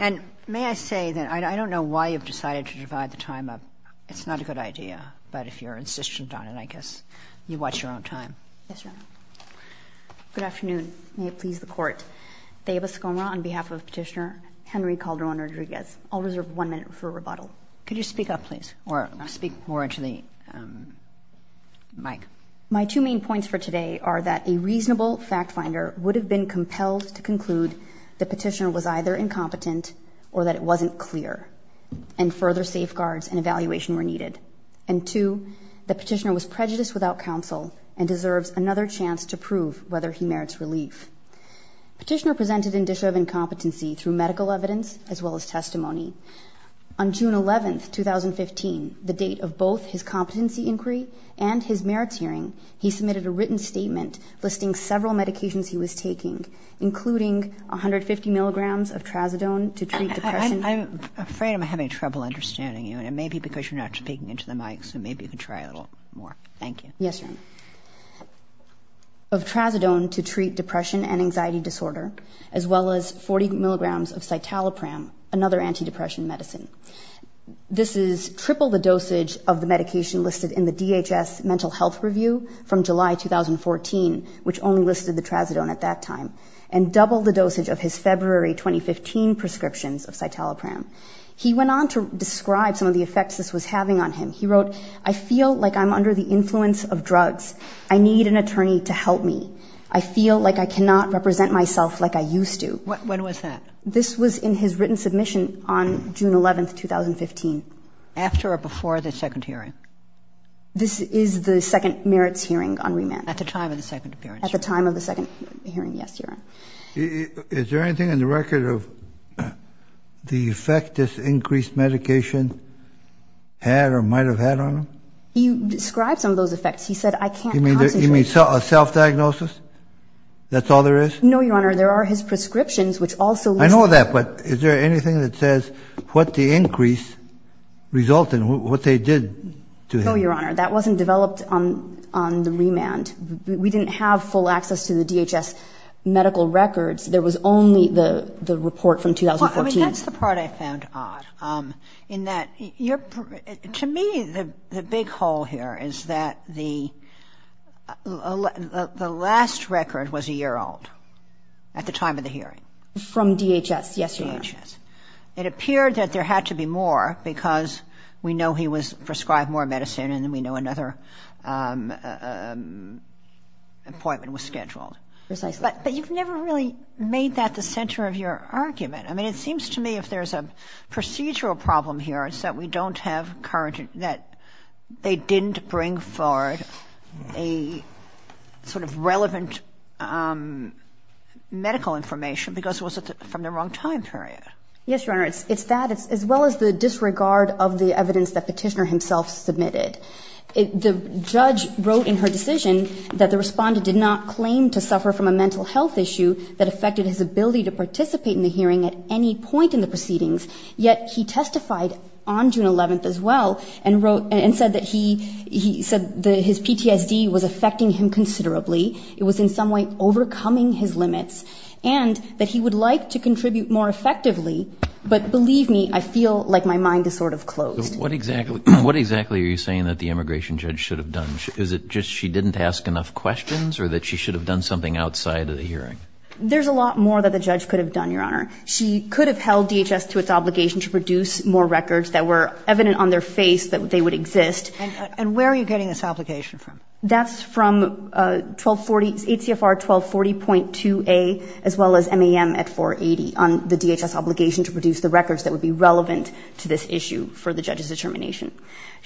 And may I say that I don't know why you've decided to divide the time up. It's not a good idea, but if you're insistent on it, I guess you watch your own time. Yes, Your Honor. Good afternoon. May it please the Court. Deba Skomra on behalf of Petitioner Henry Calderon-Rodriguez. I'll reserve one minute for rebuttal. Could you speak up, please, or speak more into the mic? My two main points for today are that a reasonable fact finder would have been compelled to conclude that Petitioner was either incompetent or that it wasn't clear, and further safeguards and evaluation were needed. And two, that Petitioner was prejudiced without counsel and deserves another chance to prove whether he merits relief. Petitioner presented an issue of incompetency through medical evidence as well as testimony. On June 11, 2015, the date of both his competency inquiry and his merits hearing, he submitted a written statement listing several medications he was taking, including 150 milligrams of trazodone to treat depression. I'm afraid I'm having trouble understanding you, and it may be because you're not speaking into the mic, so maybe you can try a little more. Thank you. Yes, Your Honor. Of trazodone to treat depression and anxiety disorder, as well as 40 milligrams of citalopram, another antidepressant medicine. This is triple the dosage of the medication listed in the DHS Mental Health Review from July 2014, which only listed the trazodone at that time, and double the dosage of his February 2015 prescriptions of citalopram. He went on to describe some of the effects this was having on him. He wrote, I feel like I'm under the influence of drugs. I need an attorney to help me. I feel like I cannot represent myself like I used to. When was that? This was in his written submission on June 11, 2015. After or before the second hearing? This is the second merits hearing on remand. At the time of the second appearance? At the time of the second hearing, yes, Your Honor. Is there anything in the record of the effect this increased medication had or might have had on him? He described some of those effects. He said, I can't concentrate. You mean self-diagnosis? That's all there is? No, Your Honor. There are his prescriptions, which also listed. I know that, but is there anything that says what the increase resulted, what they did to him? No, Your Honor. That wasn't developed on the remand. We didn't have full access to the DHS medical records. There was only the report from 2014. Well, I mean, that's the part I found odd, in that to me the big hole here is that the last record was a year old. At the time of the hearing. From DHS, yes, Your Honor. DHS. It appeared that there had to be more because we know he was prescribed more medicine and we know another appointment was scheduled. Precisely. But you've never really made that the center of your argument. I mean, it seems to me if there's a procedural problem here, that they didn't bring forward a sort of relevant medical information because it was from the wrong time period. Yes, Your Honor. It's that, as well as the disregard of the evidence that Petitioner himself submitted. The judge wrote in her decision that the respondent did not claim to suffer from a mental health issue that affected his ability to participate in the hearing at any point in the proceedings, yet he testified on June 11th as well and said that his PTSD was affecting him considerably. It was in some way overcoming his limits and that he would like to contribute more effectively. But believe me, I feel like my mind is sort of closed. What exactly are you saying that the immigration judge should have done? Is it just she didn't ask enough questions or that she should have done something outside of the hearing? There's a lot more that the judge could have done, Your Honor. She could have held DHS to its obligation to produce more records that were evident on their face that they would exist. And where are you getting this obligation from? That's from HCFR 1240.2a, as well as MAM at 480, on the DHS obligation to produce the records that would be relevant to this issue for the judge's determination.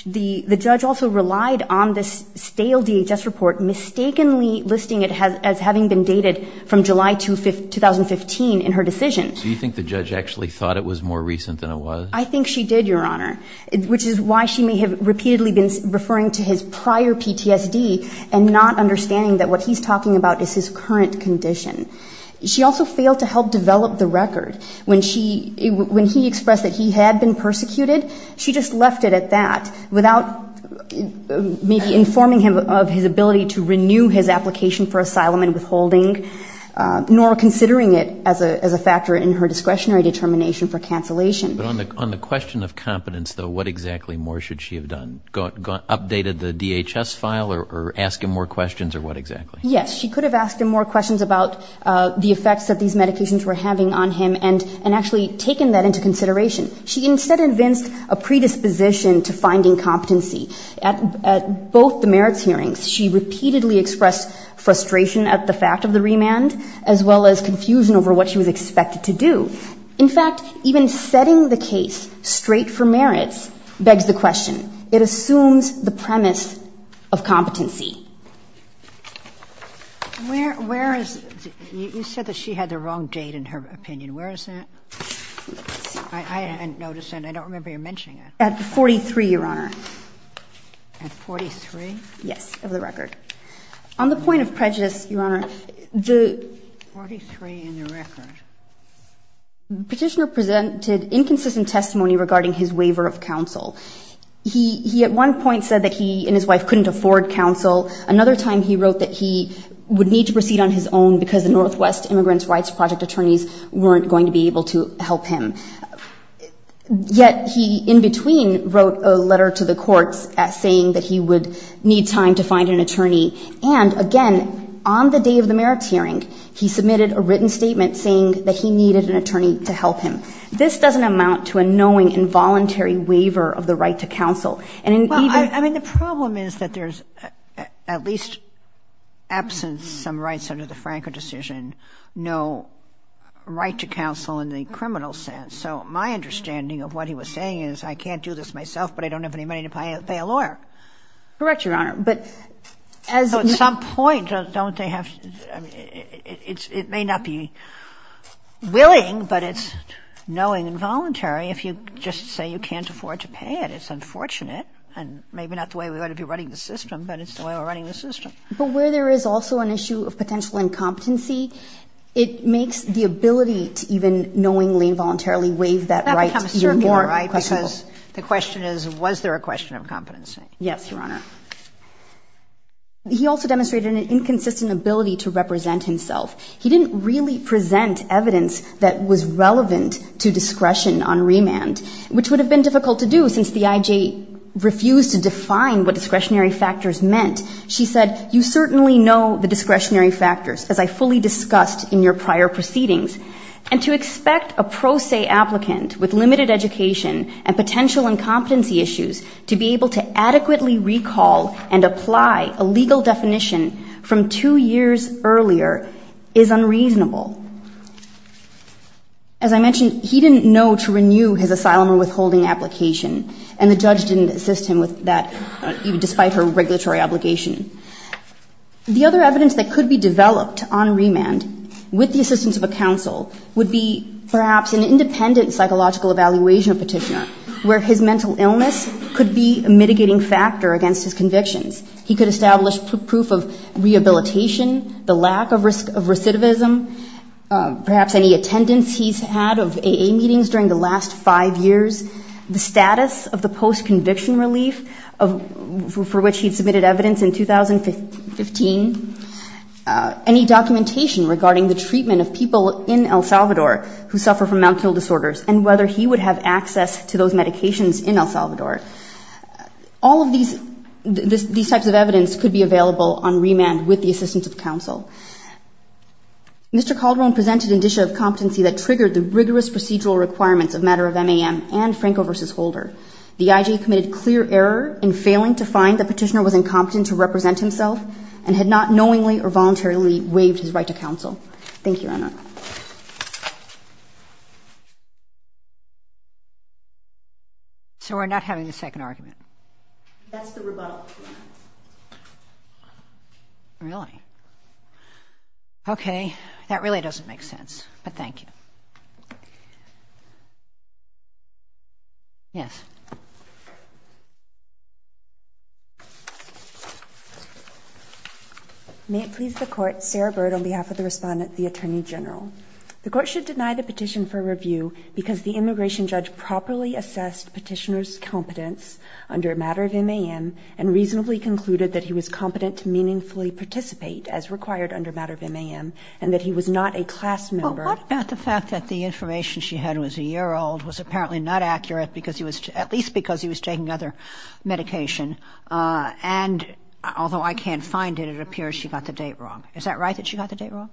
The judge also relied on this stale DHS report, mistakenly listing it as having been dated from July 2015 in her decision. Do you think the judge actually thought it was more recent than it was? I think she did, Your Honor, which is why she may have repeatedly been referring to his prior PTSD and not understanding that what he's talking about is his current condition. She also failed to help develop the record. When he expressed that he had been persecuted, she just left it at that, without maybe informing him of his ability to renew his application for asylum and withholding, nor considering it as a factor in her discretionary determination for cancellation. But on the question of competence, though, what exactly more should she have done? Updated the DHS file or asked him more questions, or what exactly? Yes, she could have asked him more questions about the effects that these medications were having on him and actually taken that into consideration. She instead invents a predisposition to finding competency. At both the merits hearings, she repeatedly expressed frustration at the fact of the remand, as well as confusion over what she was expected to do. In fact, even setting the case straight for merits begs the question. It assumes the premise of competency. Where is the – you said that she had the wrong date in her opinion. Where is that? I hadn't noticed it. I don't remember you mentioning it. At 43, Your Honor. At 43? Yes, of the record. On the point of prejudice, Your Honor, the – 43 in the record. The Petitioner presented inconsistent testimony regarding his waiver of counsel. He at one point said that he and his wife couldn't afford counsel. Another time he wrote that he would need to proceed on his own because the Northwest Immigrants Rights Project attorneys weren't going to be able to help him. Yet he in between wrote a letter to the courts saying that he would need time to find an attorney. And, again, on the day of the merits hearing, he submitted a written statement saying that he needed an attorney to help him. This doesn't amount to a knowing involuntary waiver of the right to counsel. Well, I mean, the problem is that there's at least absence, some rights under the Franco decision, no right to counsel in the criminal sense. So my understanding of what he was saying is I can't do this myself, but I don't have any money to pay a lawyer. Correct, Your Honor. But at some point, don't they have – it may not be willing, but it's knowing involuntary. If you just say you can't afford to pay it, it's unfortunate. And maybe not the way we ought to be running the system, but it's the way we're running the system. But where there is also an issue of potential incompetency, it makes the ability to even knowingly involuntarily waive that right even more questionable. That becomes certainly the right because the question is was there a question of competency. Yes, Your Honor. He also demonstrated an inconsistent ability to represent himself. He didn't really present evidence that was relevant to discretion on remand, which would have been difficult to do since the IJ refused to define what discretionary factors meant. She said, you certainly know the discretionary factors, as I fully discussed in your prior proceedings. And to expect a pro se applicant with limited education and potential incompetency issues to be able to adequately recall and apply a legal definition from two years earlier is unreasonable. As I mentioned, he didn't know to renew his asylum or withholding application, and the judge didn't assist him with that, despite her regulatory obligation. The other evidence that could be developed on remand with the assistance of a counsel would be perhaps an independent psychological evaluation petitioner where his mental illness could be a mitigating factor against his convictions. He could establish proof of rehabilitation, the lack of recidivism, perhaps any attendance he's had of AA meetings during the last five years, the status of the post-conviction relief for which he submitted evidence in 2015, any documentation regarding the treatment of people in El Salvador who suffer from mental disorders, and whether he would have access to those medications in El Salvador. All of these types of evidence could be available on remand with the assistance of counsel. Mr. Calderon presented indicia of competency that triggered the rigorous procedural requirements of matter of MAM and Franco v. Holder. The IJ committed clear error in failing to find the petitioner was incompetent to represent himself and had not knowingly or voluntarily waived his right to counsel. Thank you, Your Honor. So we're not having the second argument? That's the rebuttal. Really? Okay, that really doesn't make sense, but thank you. Yes. May it please the Court, Sarah Bird on behalf of the Respondent, the Attorney General. The Court should deny the petition for review because the immigration judge properly assessed petitioner's competence under matter of MAM and reasonably concluded that he was competent to meaningfully participate, as required under matter of MAM, and that he was not a class member. Well, what about the fact that the information she had was a year old, was apparently not accurate, at least because he was taking other medication, and although I can't find it, it appears she got the date wrong. Is that right, that she got the date wrong?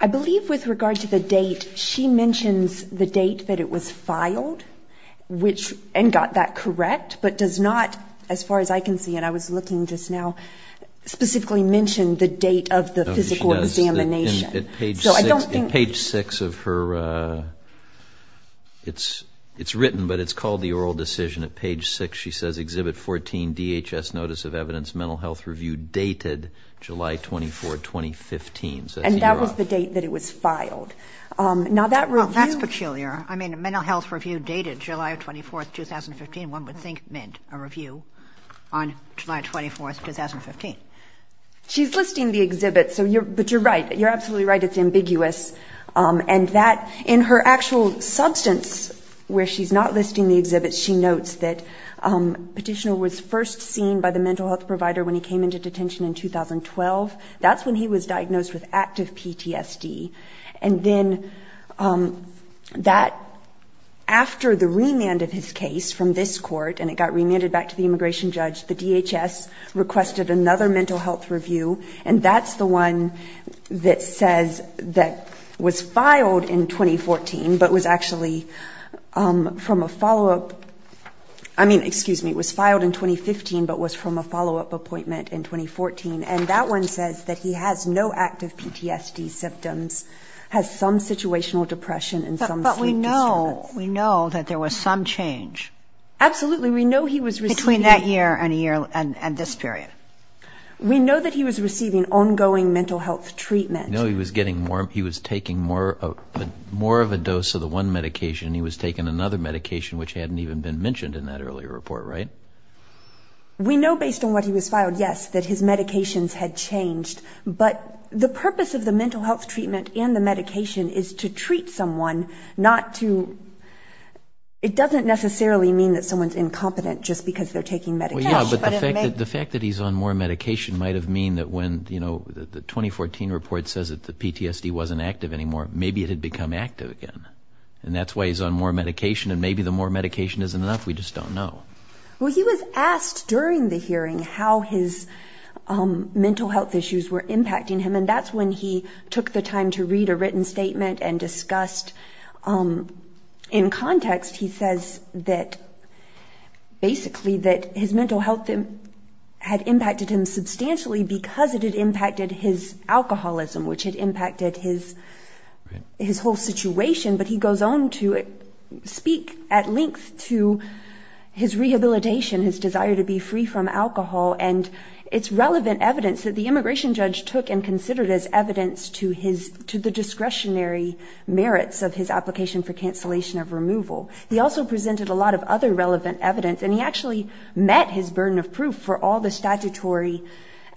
I believe with regard to the date, she mentions the date that it was filed, and got that correct, but does not, as far as I can see, and I was looking just now, specifically mention the date of the physical examination. At page 6 of her, it's written, but it's called the oral decision. At page 6 she says, And that was the date that it was filed. Oh, that's peculiar. I mean, a mental health review dated July 24, 2015, one would think meant a review on July 24, 2015. She's listing the exhibit, but you're right, you're absolutely right, it's ambiguous, and in her actual substance, where she's not listing the exhibit, she notes that petitioner was first seen by the mental health provider when he came into detention in 2012, that's when he was diagnosed with active PTSD, and then that, after the remand of his case from this court, and it got remanded back to the immigration judge, the DHS requested another mental health review, and that's the one that says, that was filed in 2014, but was actually from a follow-up, I mean, excuse me, it was filed in 2015, but was from a follow-up appointment in 2014, and that one says that he has no active PTSD symptoms, has some situational depression and some sleep disorders. But we know, we know that there was some change. Absolutely, we know he was receiving... Between that year and this period. We know that he was receiving ongoing mental health treatment. No, he was getting more, he was taking more of a dose of the one medication, and he was taking another medication, which hadn't even been mentioned in that earlier report, right? We know, based on what he was filed, yes, that his medications had changed, but the purpose of the mental health treatment and the medication is to treat someone, not to... And that's why he's on more medication might have mean that when, you know, the 2014 report says that the PTSD wasn't active anymore, maybe it had become active again. And that's why he's on more medication, and maybe the more medication isn't enough, we just don't know. Well, he was asked during the hearing how his mental health issues were impacting him, and that's when he took the time to read a written statement and discussed, in context, he says that basically that his mental health had impacted him substantially because it had impacted his alcoholism, which had impacted his whole situation, but he goes on to speak at length to his rehabilitation, his desire to be free from alcohol, and it's relevant evidence that the immigration judge took and considered as evidence to the discretionary merits of his application for cancellation of removal. He also presented a lot of other relevant evidence, and he actually met his burden of proof for all the statutory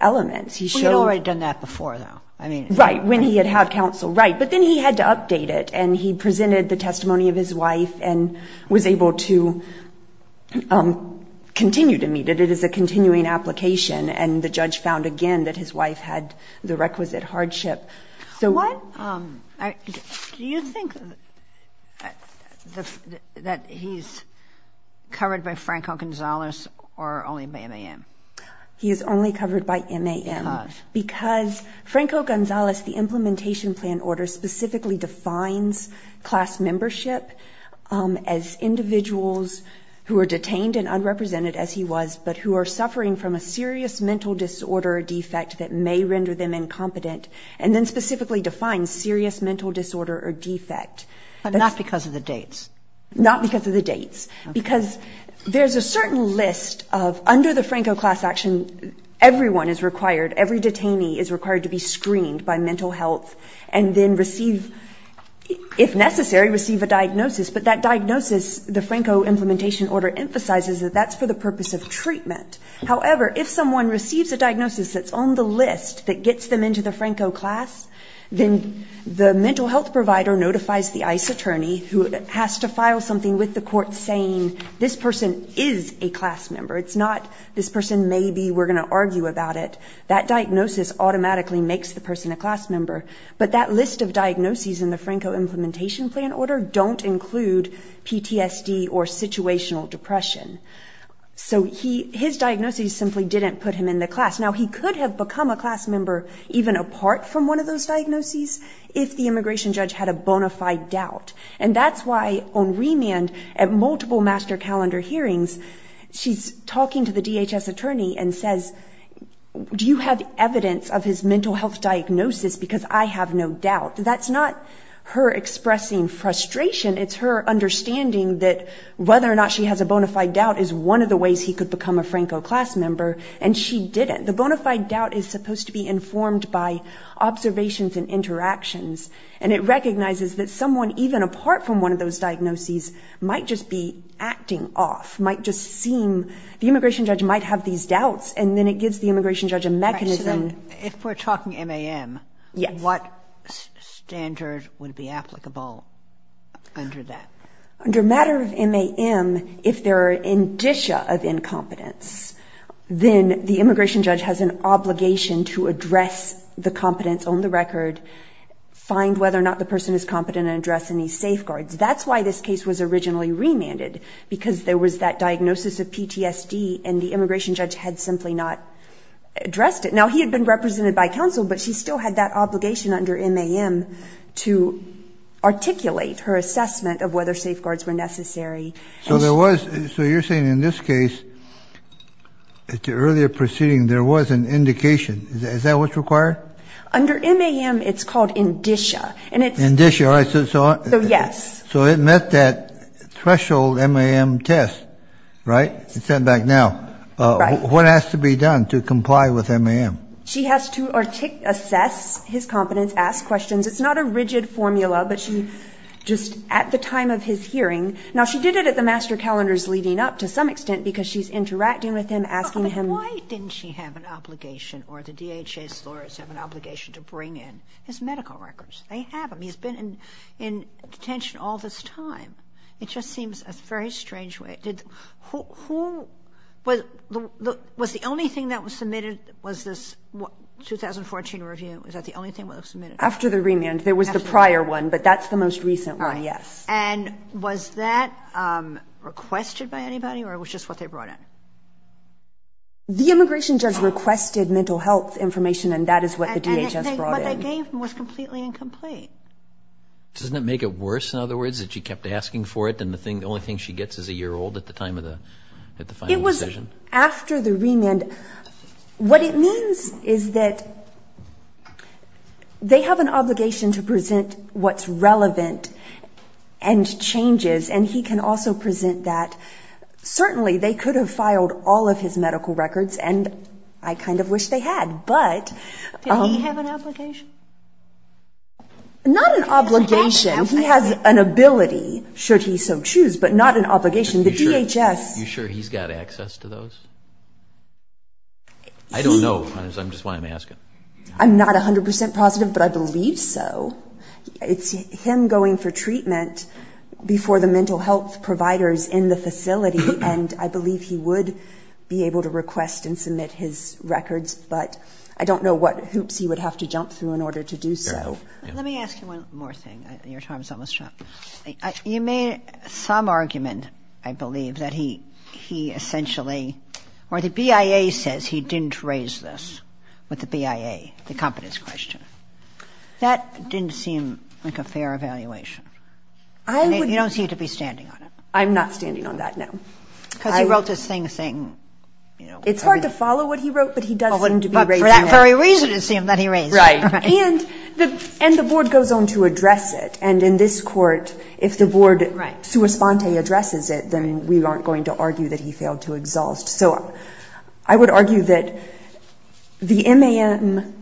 elements. He showed... Well, he had already done that before, though. Right, when he had had counsel, right, but then he had to update it, and he presented the testimony of his wife and was able to continue to meet it. It is a continuing application, and the judge found again that his wife had the requisite hardship. Do you think that he's covered by Franco Gonzalez or only by MAM? He is only covered by MAM because Franco Gonzalez, the implementation plan order, specifically defines class membership as individuals who are detained and unrepresented as he was, but who are suffering from a serious mental disorder or defect that may render them incompetent, and then specifically defines serious mental disorder or defect. But not because of the dates. Not because of the dates, because there's a certain list of... Under the Franco class action, everyone is required, every detainee is required to be screened by mental health and then receive, if necessary, receive a diagnosis, but that diagnosis, the Franco implementation order emphasizes that that's for the purpose of treatment. However, if someone receives a diagnosis that's on the list that gets them into the Franco class, then the mental health provider notifies the ICE attorney who has to file something with the court saying this person is a class member. It's not this person may be, we're going to argue about it. That diagnosis automatically makes the person a class member, but that list of diagnoses in the Franco implementation plan order don't include PTSD or situational depression. So his diagnosis simply didn't put him in the class. Now, he could have become a class member even apart from one of those diagnoses if the immigration judge had a bona fide doubt. And that's why on remand at multiple master calendar hearings, she's talking to the DHS attorney and says, do you have evidence of his mental health diagnosis, because I have no doubt. That's not her expressing frustration. It's her understanding that whether or not she has a bona fide doubt is one of the ways he could become a Franco class member. And she did it. The bona fide doubt is supposed to be informed by observations and interactions. And it recognizes that someone even apart from one of those diagnoses might just be acting off, might just seem, the immigration judge might have these doubts, and then it gives the immigration judge a mechanism. If we're talking MAM, what standard would be applicable under that? Under matter of MAM, if there are indicia of incompetence, then the immigration judge has an obligation to address the competence on the record, find whether or not the person is competent and address any safeguards. That's why this case was originally remanded, because there was that diagnosis of PTSD, and the immigration judge had simply not addressed it. Now, he had been represented by counsel, but she still had that obligation under MAM to articulate her assessment of whether safeguards were necessary. So you're saying in this case, at the earlier proceeding, there was an indication. Is that what's required? Under MAM, it's called indicia. So it met that threshold MAM test, right? What has to be done to comply with MAM? She has to assess his competence, ask questions. It's not a rigid formula, but she just at the time of his hearing. Now, she did it at the master calendars leading up to some extent, because she's interacting with him, asking him. But why didn't she have an obligation or the DHS lawyers have an obligation to bring in his medical records? They have them. He's been in detention all this time. It just seems a very strange way. Was the only thing that was submitted, was this 2014 review, was that the only thing that was submitted? After the remand. There was the prior one, but that's the most recent one, yes. And was that requested by anybody, or was just what they brought in? The immigration judge requested mental health information, and that is what the DHS brought in. And what they gave him was completely incomplete. Doesn't it make it worse, in other words, that she kept asking for it, and the only thing she gets is a year old at the time of the final decision? It was after the remand. What it means is that they have an obligation to present what's relevant and changes, and he can also present that. Certainly, they could have filed all of his medical records, and I kind of wish they had. Did he have an obligation? Not an obligation. He has an ability, should he so choose, but not an obligation. Are you sure he's got access to those? I don't know, that's why I'm asking. I'm not 100% positive, but I believe so. It's him going for treatment before the mental health providers in the facility, and I believe he would be able to request and submit his records, but I don't know what hoops he would have to jump through in order to do so. Let me ask you one more thing. The BIA says he didn't raise this with the BIA, the competence question. That didn't seem like a fair evaluation, and you don't seem to be standing on it. I'm not standing on that, no. It's hard to follow what he wrote, but he does seem to be raising it. And the Board goes on to address it, and in this Court, if the Board sua sponte addresses it, then we aren't going to argue that he failed to exhaust. So I would argue that the MAM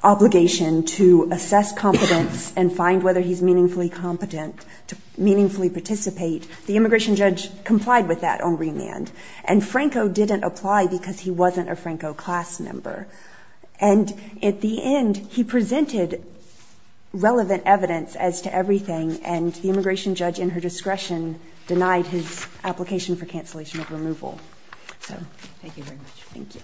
obligation to assess competence and find whether he's meaningfully competent to meaningfully participate, the immigration judge complied with that on remand, and Franco didn't apply because he wasn't a Franco class member. And at the end, he presented relevant evidence as to everything, and the immigration judge, in her discretion, denied his application for cancellation of removal. So thank you very much. Thank you.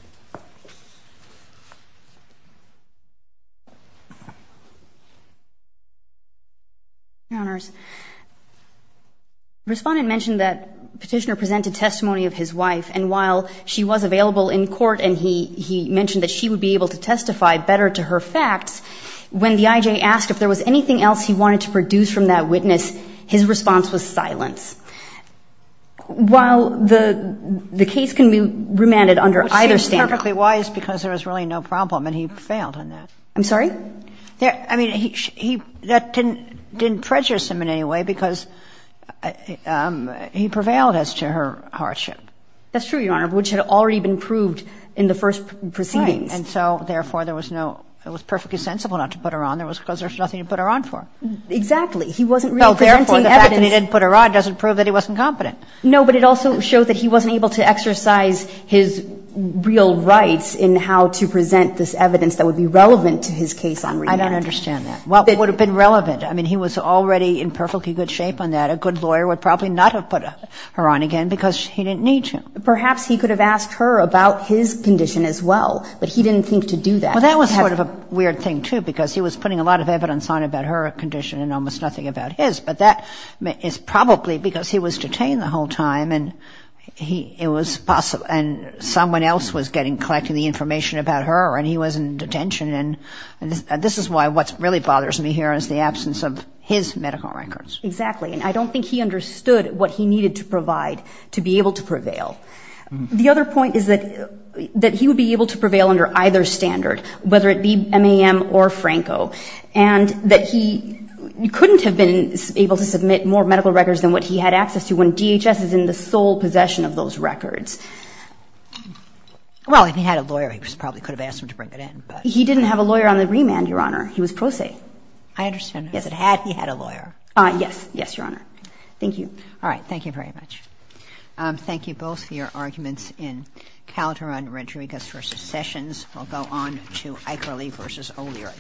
Respondent mentioned that Petitioner presented testimony of his wife, and while she was available in court and he mentioned that she would be able to testify better to her facts, when the IJ asked if there was anything else he wanted to produce from that witness, his response was silence. While the case can be remanded under either standard. Which seems perfectly wise because there was really no problem, and he failed in that. I'm sorry? I mean, that didn't prejudice him in any way because he prevailed as to her hardship. That's true, Your Honor, which had already been proved in the first proceedings. Right. And so, therefore, there was no – it was perfectly sensible not to put her on. It was because there was nothing to put her on for. Exactly. He wasn't really presenting evidence. The fact that he didn't put her on doesn't prove that he wasn't competent. No, but it also showed that he wasn't able to exercise his real rights in how to present this evidence that would be relevant to his case on remand. I don't understand that. What would have been relevant? I mean, he was already in perfectly good shape on that. A good lawyer would probably not have put her on again because he didn't need to. Perhaps he could have asked her about his condition as well, but he didn't think to do that. Well, that was sort of a weird thing, too, because he was putting a lot of evidence on about her condition and almost nothing about his. But that is probably because he was detained the whole time and he – it was possible – and someone else was getting – collecting the information about her and he was in detention. And this is why what really bothers me here is the absence of his medical records. Exactly. And I don't think he understood what he needed to provide to be able to prevail. The other point is that he would be able to prevail under either standard, whether it be MAM or Franco. And that he couldn't have been able to submit more medical records than what he had access to when DHS is in the sole possession of those records. Well, if he had a lawyer, he probably could have asked him to bring it in. He didn't have a lawyer on the remand, Your Honor. He was pro se. I understand that. Yes, he had a lawyer. Yes. Yes, Your Honor. Thank you. All right. Thank you very much. Thank you both for your arguments in Calderon, Rodriguez v. Sessions. We'll go on to Akerley v. O'Leary.